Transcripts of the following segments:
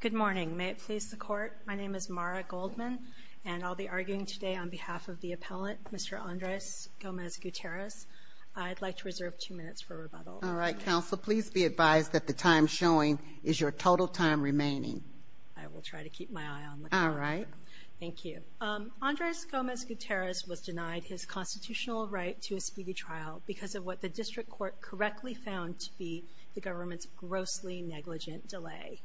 Good morning. May it please the court, my name is Mara Goldman and I'll be arguing today on behalf of the appellant Mr. Andres Gomez-Gutierrez. I'd like to reserve two minutes for rebuttal. All right, counsel please be advised that the time showing is your total time remaining. I will try to keep my eye on the clock. All right. Thank you. Andres Gomez-Gutierrez was denied his constitutional right to a speedy trial because of what the district court correctly found to be the government's grossly negligent delay.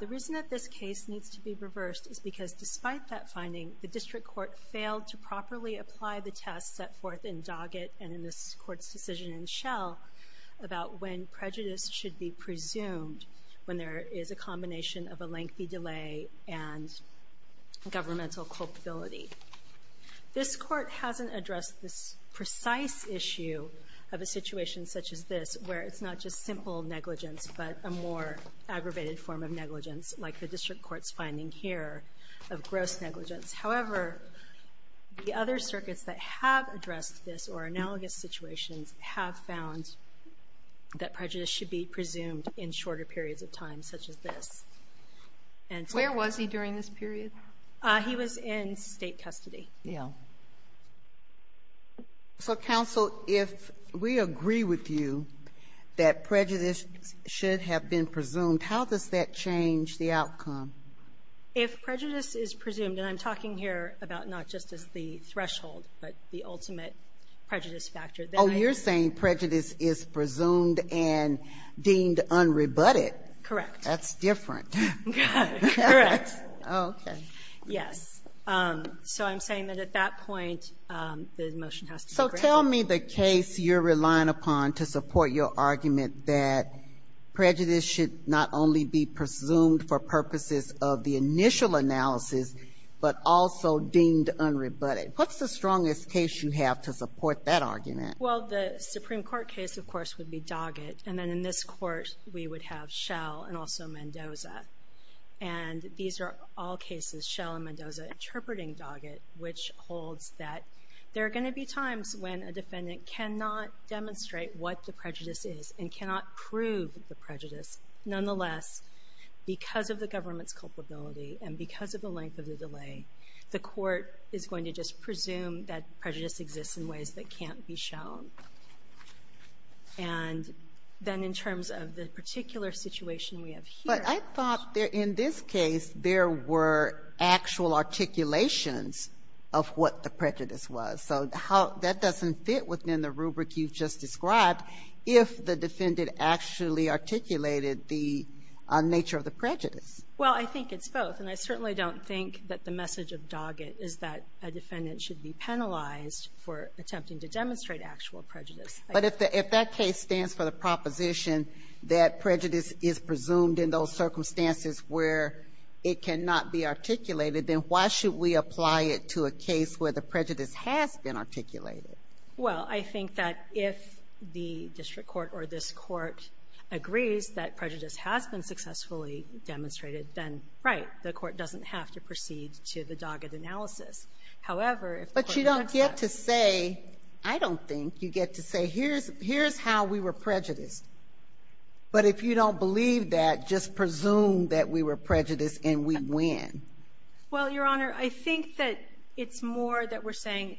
The reason that this case needs to be reversed is because despite that finding, the district court failed to properly apply the test set forth in Doggett and in this court's decision in Shell about when prejudice should be presumed when there is a combination of a lengthy delay and governmental culpability. This court hasn't addressed this precise issue of a situation such as this where it's not just simple negligence, but a more aggravated form of negligence like the district court's finding here of gross negligence. However, the other circuits that have addressed this or analogous situations have found that prejudice should be presumed in shorter periods of time, such as periods of time, such as this. Sotomayor, where was he during this period? He was in State custody. Yeah. So, counsel, if we agree with you that prejudice should have been presumed, how does that change the outcome? If prejudice is presumed, and I'm talking here about not just as the threshold, but the ultimate prejudice factor, then I don't need to go back to that. Oh, you're saying prejudice is presumed and deemed unrebutted? Correct. That's different. Correct. Okay. Yes. So I'm saying that at that point, the motion has to be granted. So tell me the case you're relying upon to support your argument that prejudice should not only be presumed for purposes of the initial analysis, but also deemed unrebutted. What's the strongest case you have to support that argument? Well, the Supreme Court case, of course, would be Doggett. And then in this court, we would have Schell and also Mendoza. And these are all cases Schell and Mendoza interpreting Doggett, which holds that there are going to be times when a defendant cannot demonstrate what the prejudice is and cannot prove the prejudice. Nonetheless, because of the government's culpability and because of the length of the delay, the court is going to just presume that prejudice exists in ways that can't be shown. And then in terms of the particular situation we have here... In this case, there were actual articulations of what the prejudice was. So that doesn't fit within the rubric you've just described if the defendant actually articulated the nature of the prejudice. Well, I think it's both. And I certainly don't think that the message of Doggett is that a defendant should be penalized for attempting to demonstrate actual prejudice. But if that case stands for the proposition that prejudice is presumed in those circumstances where it cannot be articulated, then why should we apply it to a case where the prejudice has been articulated? Well, I think that if the district court or this court agrees that prejudice has been successfully demonstrated, then right. The court doesn't have to proceed to the Doggett analysis. However, if the court does that... But you don't get to say, I don't think, you get to say, here's how we were prejudiced. But if you don't believe that, just presume that we were prejudiced and we win. Well, Your Honor, I think that it's more that we're saying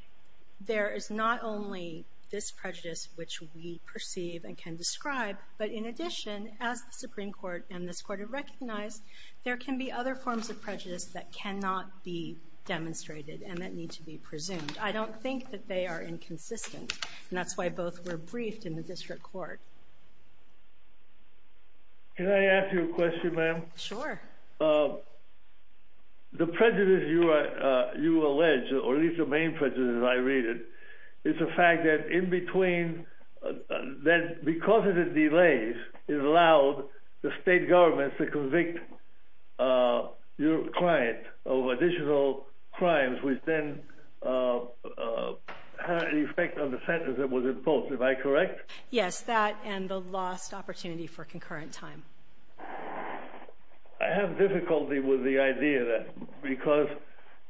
there is not only this prejudice which we perceive and can describe, but in addition, as the Supreme Court and this court have recognized, there can be other forms of prejudice that cannot be demonstrated and that need to be presumed. I don't think that they are inconsistent. And that's why both were briefed in the district court. Can I ask you a question, ma'am? Sure. The prejudice you allege, or at least the main prejudice as I read it, is the fact that in between, that because of the delays, it allowed the state government to convict your client of additional crimes which then had an effect on the sentence that was imposed. Am I correct? Yes, that and the lost opportunity for concurrent time. I have difficulty with the idea that because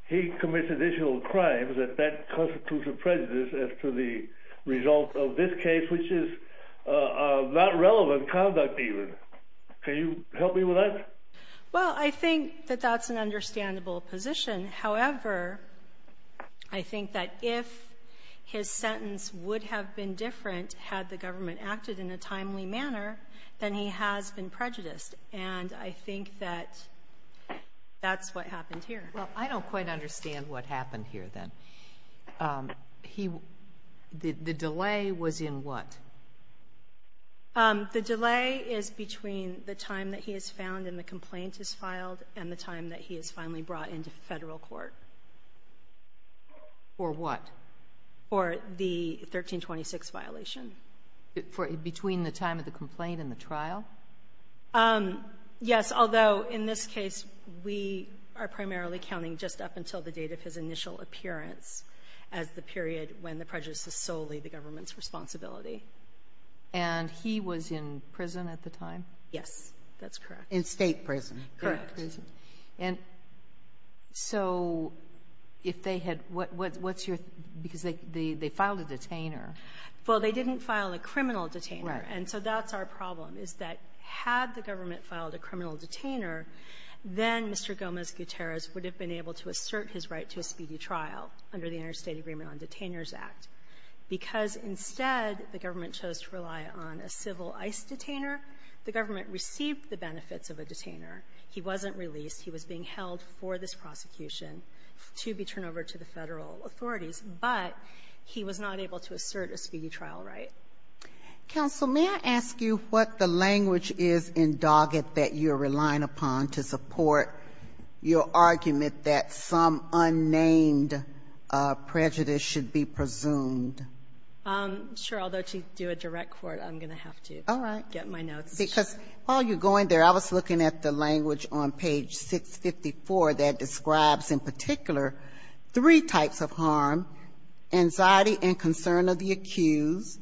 he commits additional crimes, that that constitutes a prejudice as to the result of this case, which is not relevant conduct even. Can you help me with that? Well, I think that that's an understandable position. However, I think that if his sentence would have been different had the government acted in a timely manner, then he has been prejudiced. And I think that that's what happened here. Well, I don't quite understand what happened here, then. The delay was in what? The delay is between the time that he is found and the complaint is filed and the time that he is finally brought into Federal court. For what? For the 1326 violation. Between the time of the complaint and the trial? Yes. Although in this case, we are primarily counting just up until the date of his initial appearance as the period when the prejudice is solely the government's responsibility. And he was in prison at the time? Yes. That's correct. In State prison. Correct. Correct. And so if they had what's your, because they filed a detainer. Well, they didn't file a criminal detainer. Right. And so that's our problem, is that had the government filed a criminal detainer, then Mr. Gomez-Gutierrez would have been able to assert his right to a speedy trial under the Interstate Agreement on Detainers Act, because instead the government chose to rely on a civil ICE detainer. The government received the benefits of a detainer. He wasn't released. He was being held for this prosecution to be turned over to the Federal authorities. But he was not able to assert a speedy trial right. Counsel, may I ask you what the language is in Doggett that you're relying upon to support your argument that some unnamed prejudice should be presumed? Sure. Although to do a direct court, I'm going to have to get my notes. Because while you're going there, I was looking at the language on page 654 that describes in particular three types of harm, anxiety and concern of the accused,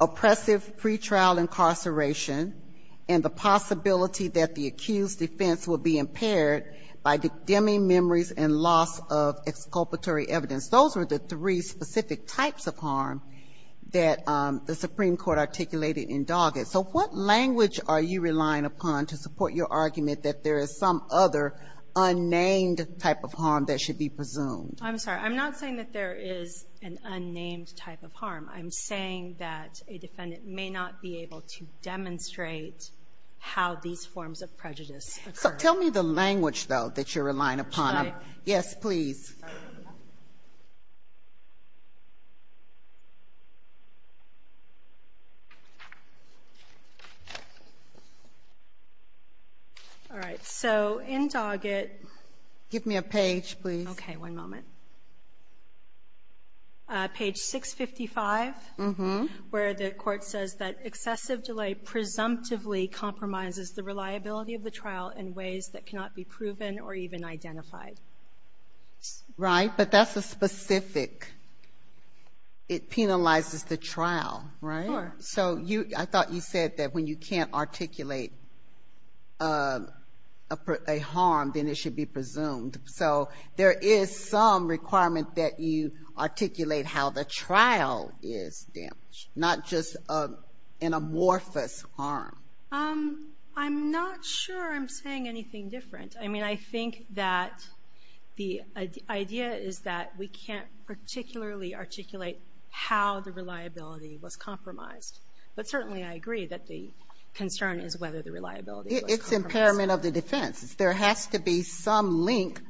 oppressive pretrial incarceration, and the possibility that the accused's defense will be impaired by dimming memories and loss of exculpatory evidence. Those are the three specific types of harm that the Supreme Court articulated in Doggett. So what language are you relying upon to support your argument that there is some other unnamed type of harm that should be presumed? I'm sorry. I'm not saying that there is an unnamed type of harm. I'm saying that a defendant may not be able to demonstrate how these forms of prejudice occur. So tell me the language, though, that you're relying upon. Should I? Yes, please. All right. So in Doggett ---- Give me a page, please. Okay. One moment. Page 655, where the Court says that excessive delay presumptively compromises the reliability of the trial in ways that cannot be proven or even identified. Right. But that's a specific. It penalizes the trial, right? Sure. So I thought you said that when you can't articulate a harm, then it should be presumed. So there is some requirement that you articulate how the trial is damaged, not just an amorphous harm. I'm not sure I'm saying anything different. I mean, I think that the idea is that we can't particularly articulate how the reliability was compromised. But certainly, I agree that the concern is whether the reliability was compromised. It's impairment of the defense. There has to be some link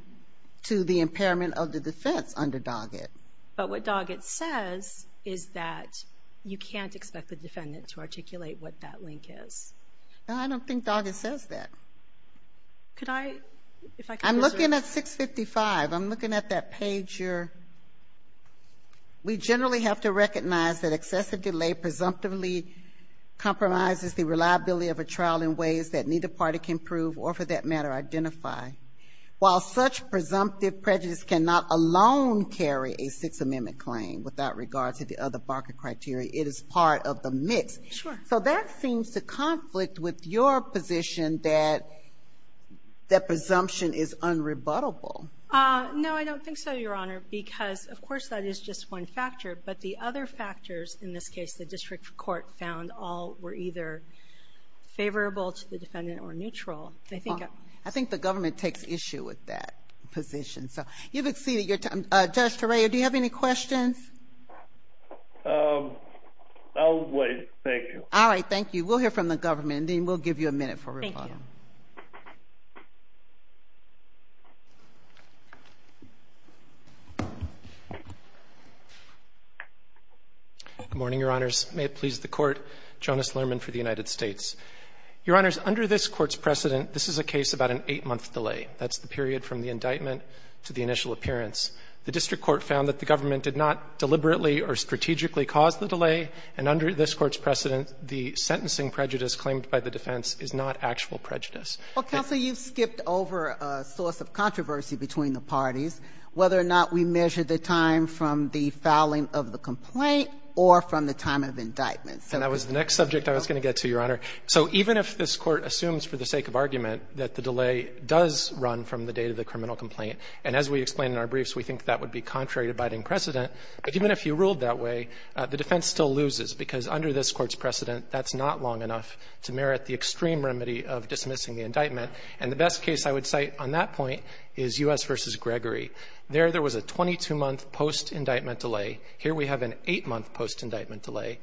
to the impairment of the defense under Doggett. But what Doggett says is that you can't expect the defendant to articulate what that link is. I don't think Doggett says that. Could I, if I could just ---- I'm looking at 655. I'm looking at that page here. We generally have to recognize that excessive delay presumptively compromises the reliability of a trial in ways that neither party can prove or, for that matter, identify. While such presumptive prejudice cannot alone carry a Sixth Amendment claim without regard to the other Barker criteria, it is part of the mix. Sure. So that seems to conflict with your position that that presumption is unrebuttable. No, I don't think so, Your Honor, because, of course, that is just one factor. But the other factors, in this case, the district court found all were either favorable to the defendant or neutral. I think the government takes issue with that position. So you've exceeded your time. Judge Torreo, do you have any questions? I'll wait. Thank you. All right. Thank you. We'll hear from the government, and then we'll give you a minute for rebuttal. Thank you. Good morning, Your Honors. May it please the Court. Jonas Lerman for the United States. Your Honors, under this Court's precedent, this is a case about an 8-month delay. That's the period from the indictment to the initial appearance. The district court found that the government did not deliberately or strategically cause the delay, and under this Court's precedent, the sentencing prejudice claimed by the defense is not actual prejudice. Well, counsel, you've skipped over a source of controversy between the parties, whether or not we measure the time from the fouling of the complaint or from the time of indictment. And that was the next subject I was going to get to, Your Honor. So even if this Court assumes for the sake of argument that the delay does run from the date of the criminal complaint, and as we explain in our briefs, we think that would be contrary to biding precedent, but even if you ruled that way, the defense still loses, because under this Court's precedent, that's not long enough to merit the extreme remedy of dismissing the indictment. And the best case I would cite on that point is U.S. v. Gregory. There, there was a 22-month post-indictment delay. Here we have an 8-month post-indictment delay.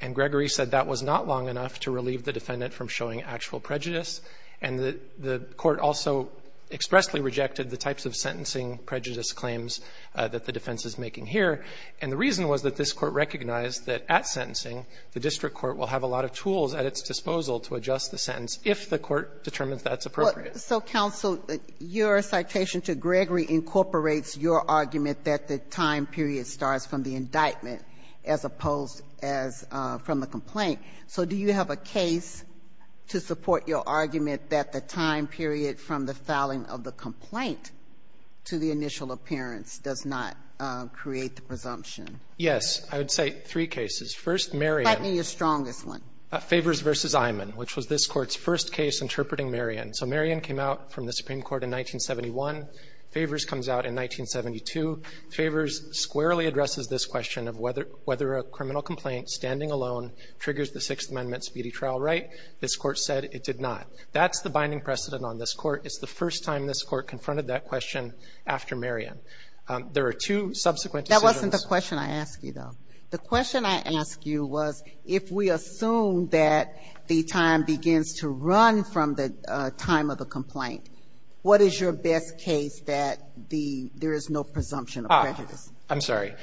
And Gregory said that was not long enough to relieve the defendant from showing actual prejudice. And the Court also expressly rejected the types of sentencing prejudice claims that the defense is making here. And the reason was that this Court recognized that at sentencing, the district court will have a lot of tools at its disposal to adjust the sentence if the court determines that's appropriate. Ginsburg. So, counsel, your citation to Gregory incorporates your argument that the time period starts from the indictment, as opposed as from the complaint. So do you have a case to support your argument that the time period from the filing of the complaint to the initial appearance does not create the presumption? Yes. I would cite three cases. First, Marion. Fight me your strongest one. Favors v. Imon, which was this Court's first case interpreting Marion. So Marion came out from the Supreme Court in 1971. Favors comes out in 1972. Favors squarely addresses this question of whether a criminal complaint standing alone triggers the Sixth Amendment speedy trial right. This Court said it did not. That's the binding precedent on this Court. It's the first time this Court confronted that question after Marion. There are two subsequent decisions. That wasn't the question I asked you, though. The question I asked you was if we assume that the time begins to run from the time of the complaint, what is your best case that there is no presumption of prejudice? I'm sorry.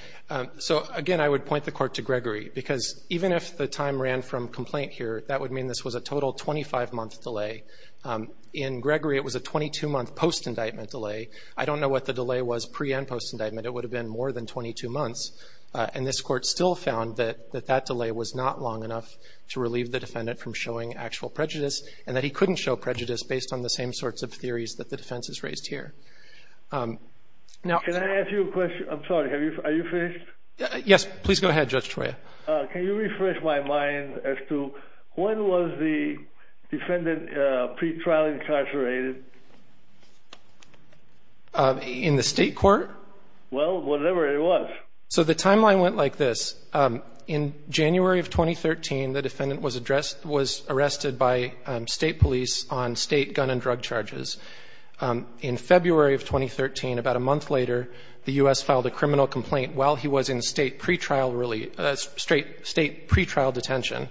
So, again, I would point the Court to Gregory, because even if the time ran from complaint here, that would mean this was a total 25-month delay. In Gregory, it was a 22-month post-indictment delay. I don't know what the delay was pre- and post-indictment. It would have been more than 22 months, and this Court still found that that delay was not long enough to relieve the defendant from showing actual prejudice, and that he couldn't show prejudice based on the same sorts of theories that the defense has raised here. Now— Can I ask you a question? I'm sorry. Are you finished? Yes. Please go ahead, Judge Troya. Can you refresh my mind as to when was the defendant pre-trial incarcerated? In the state court? Well, whatever it was. So the timeline went like this. In January of 2013, the defendant was arrested by state police on state gun and drug charges. In February of 2013, about a month later, the U.S. filed a criminal complaint while he was in state pre-trial detention.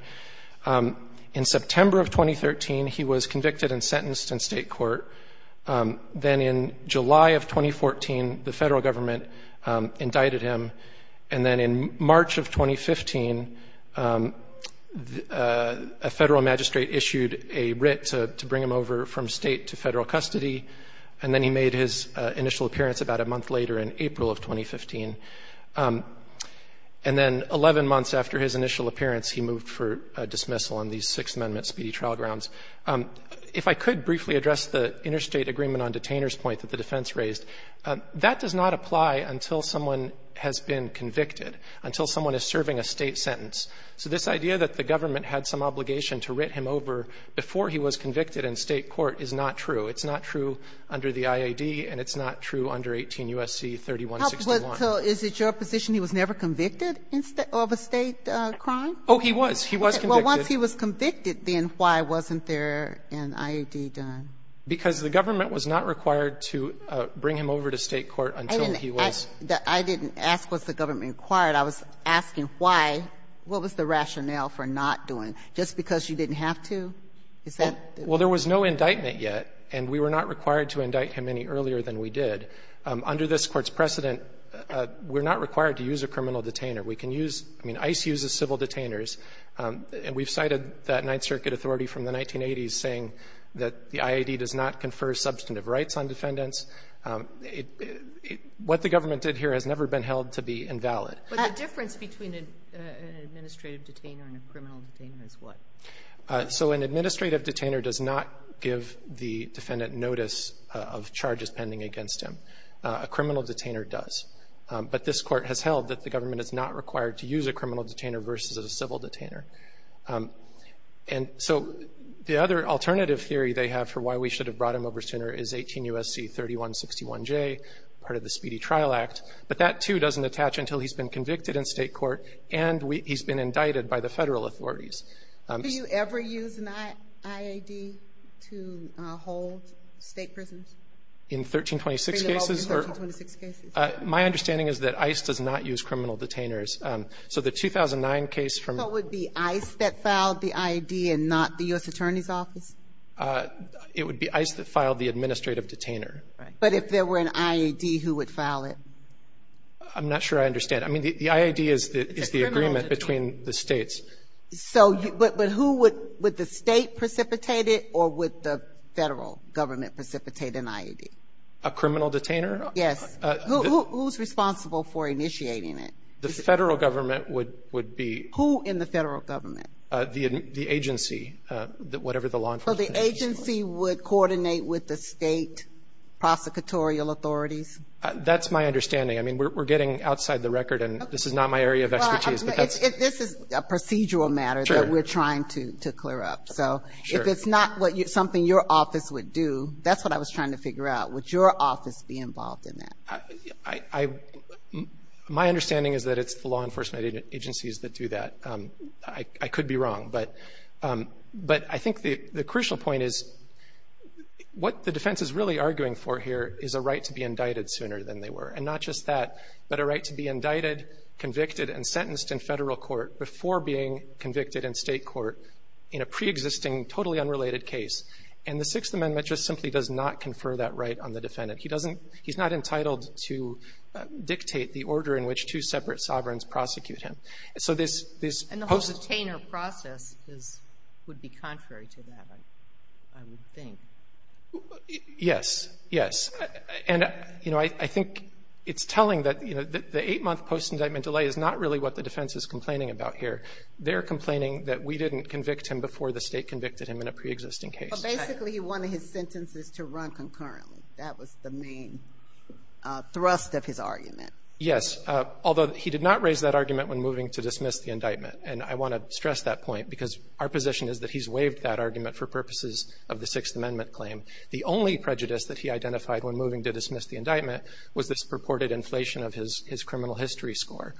In September of 2013, he was convicted and sentenced in state court. Then in July of 2014, the federal government indicted him. And then in March of 2015, a federal magistrate issued a writ to bring him over from state to federal custody, and then he made his initial appearance about a And then 11 months after his initial appearance, he moved for dismissal on these Sixth Amendment speedy trial grounds. If I could briefly address the interstate agreement on detainer's point that the defense raised. That does not apply until someone has been convicted, until someone is serving a state sentence. So this idea that the government had some obligation to writ him over before he was convicted in state court is not true. It's not true under the IAD, and it's not true under 18 U.S.C. 3161. So is it your position he was never convicted of a state crime? Oh, he was. He was convicted. Well, once he was convicted, then why wasn't there an IAD done? Because the government was not required to bring him over to state court until he was. I didn't ask what the government required. I was asking why. What was the rationale for not doing? Just because you didn't have to? Is that the reason? Well, there was no indictment yet, and we were not required to indict him any earlier than we did. Under this Court's precedent, we're not required to use a criminal detainer. We can use — I mean, ICE uses civil detainers, and we've cited that Ninth Circuit authority from the 1980s saying that the IAD does not confer substantive rights on defendants. What the government did here has never been held to be invalid. But the difference between an administrative detainer and a criminal detainer is what? So an administrative detainer does not give the defendant notice of charges pending against him. A criminal detainer does. But this Court has held that the government is not required to use a criminal detainer versus a civil detainer. And so the other alternative theory they have for why we should have brought him over sooner is 18 U.S.C. 3161J, part of the Speedy Trial Act. But that, too, doesn't attach until he's been convicted in state court and he's been indicted by the federal authorities. Do you ever use an IAD to hold state prisoners? In 1326 cases or? In 1326 cases. My understanding is that ICE does not use criminal detainers. So the 2009 case from the ---- So it would be ICE that filed the IAD and not the U.S. Attorney's Office? It would be ICE that filed the administrative detainer. Right. But if there were an IAD, who would file it? I'm not sure I understand. I mean, the IAD is the agreement between the States. It's a criminal detainer. But who would the State precipitate it or would the federal government precipitate an IAD? A criminal detainer? Yes. Who's responsible for initiating it? The federal government would be. Who in the federal government? The agency, whatever the law enforcement agency is. So the agency would coordinate with the State prosecutorial authorities? That's my understanding. I mean, we're getting outside the record, and this is not my area of expertise. This is a procedural matter that we're trying to clear up. So if it's not something your office would do, that's what I was trying to figure out. Would your office be involved in that? My understanding is that it's the law enforcement agencies that do that. I could be wrong. But I think the crucial point is what the defense is really arguing for here is a right to be indicted sooner than they were, and not just that, but a right to be indicted, convicted, and sentenced in federal court before being convicted in State court in a preexisting, totally unrelated case. And the Sixth Amendment just simply does not confer that right on the defendant. He doesn't — he's not entitled to dictate the order in which two separate sovereigns prosecute him. So this — And the whole detainer process is — would be contrary to that, I would think. Yes. Yes. And, you know, I think it's telling that, you know, the eight-month post-indictment delay is not really what the defense is complaining about here. They're complaining that we didn't convict him before the State convicted him in a preexisting case. But basically, he wanted his sentences to run concurrently. That was the main thrust of his argument. Yes, although he did not raise that argument when moving to dismiss the indictment. And I want to stress that point, because our position is that he's waived that argument for purposes of the Sixth Amendment claim. The only prejudice that he identified when moving to dismiss the indictment was this purported inflation of his criminal history score.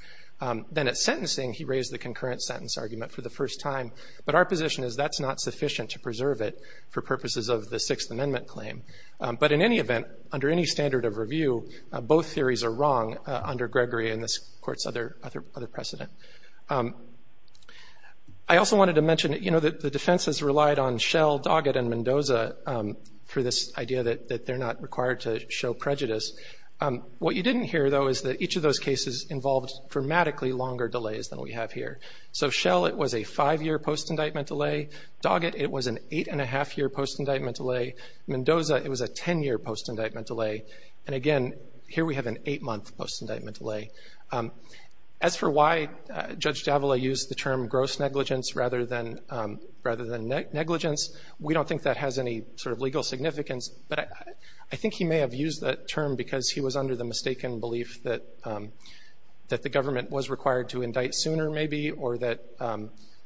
Then at sentencing, he raised the concurrent sentence argument for the first time. But our position is that's not sufficient to preserve it for purposes of the Sixth Amendment claim. But in any event, under any standard of review, both theories are wrong under Gregory and this Court's other precedent. I also wanted to mention, you know, that the defense has relied on Shell, Doggett, and Mendoza for this idea that they're not required to show prejudice. What you didn't hear, though, is that each of those cases involved dramatically longer delays than we have here. So Shell, it was a five-year post-indictment delay. Doggett, it was an eight-and-a-half-year post-indictment delay. Mendoza, it was a ten-year post-indictment delay. And again, here we have an eight-month post-indictment delay. As for why Judge Davila used the term gross negligence rather than negligence, we don't think that has any sort of legal significance. But I think he may have used that term because he was under the mistaken belief that the government was required to indict sooner, maybe, or that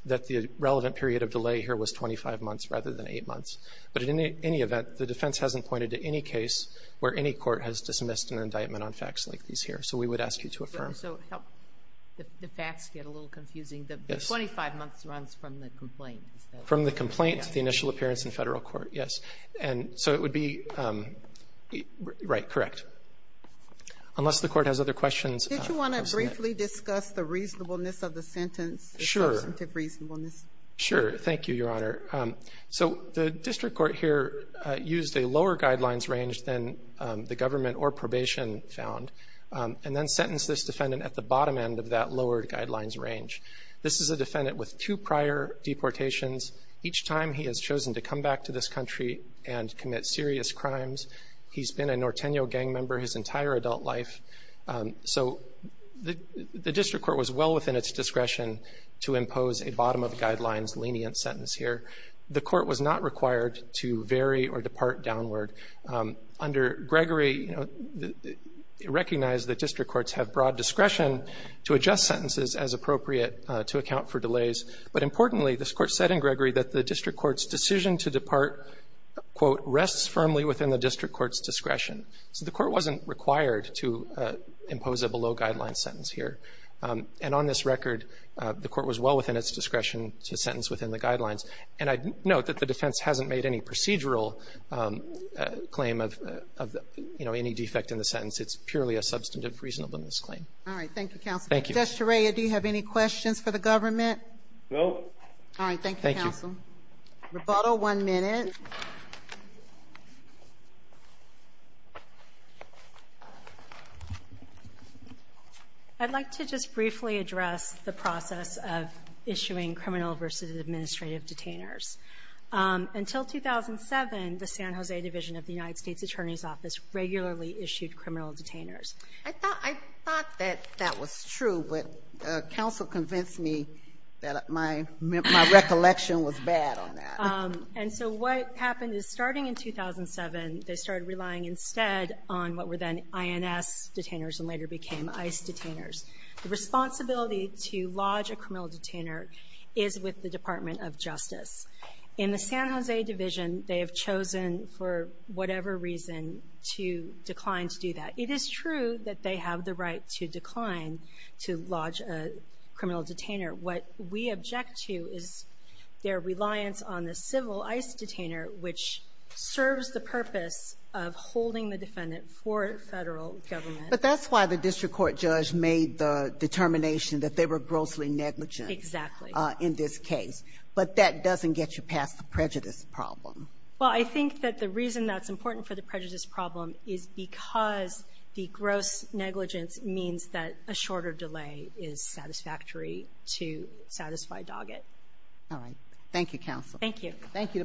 the relevant period of delay here was 25 months rather than eight months. But in any event, the defense hasn't pointed to any case where any court has dismissed an indictment on facts like these here. So we would ask you to affirm. So the facts get a little confusing. The 25 months runs from the complaint. From the complaint to the initial appearance in federal court, yes. So it would be right, correct. Unless the Court has other questions. Did you want to briefly discuss the reasonableness of the sentence? Sure. The substantive reasonableness. Sure. Thank you, Your Honor. So the district court here used a lower guidelines range than the government or probation found, and then sentenced this defendant at the bottom end of that lowered guidelines range. This is a defendant with two prior deportations. Each time he has chosen to come back to this country and commit serious crimes. He's been a Norteno gang member his entire adult life. The court was not required to vary or depart downward. Under Gregory, you know, recognize that district courts have broad discretion to adjust sentences as appropriate to account for delays. But importantly, this Court said in Gregory that the district court's decision to depart, quote, rests firmly within the district court's discretion. So the court wasn't required to impose a below-guidelines sentence here. And on this record, the court was well within its discretion to sentence within the guidelines. And I note that the defense hasn't made any procedural claim of, you know, any defect in the sentence. It's purely a substantive reasonableness claim. All right. Thank you, counsel. Thank you. Judge Torea, do you have any questions for the government? No. All right. Thank you, counsel. Thank you. Roboto, one minute. I'd like to just briefly address the process of issuing criminal versus administrative detainers. Until 2007, the San Jose Division of the United States Attorney's Office regularly issued criminal detainers. I thought that that was true, but counsel convinced me that my recollection was bad on that. And so what happened is, starting in 2007, they started relying instead on what were then INS detainers and later became ICE detainers. The responsibility to lodge a criminal detainer is with the Department of Justice. In the San Jose Division, they have chosen for whatever reason to decline to do that. It is true that they have the right to decline to lodge a criminal detainer. What we object to is their reliance on the civil ICE detainer, which serves the purpose of holding the defendant for Federal government. But that's why the district court judge made the determination that they were grossly negligent. Exactly. In this case. But that doesn't get you past the prejudice problem. Well, I think that the reason that's important for the prejudice problem is because the gross negligence means that a shorter delay is satisfactory to satisfy Doggett. All right. Thank you, counsel. Thank you. Thank you to both counsel.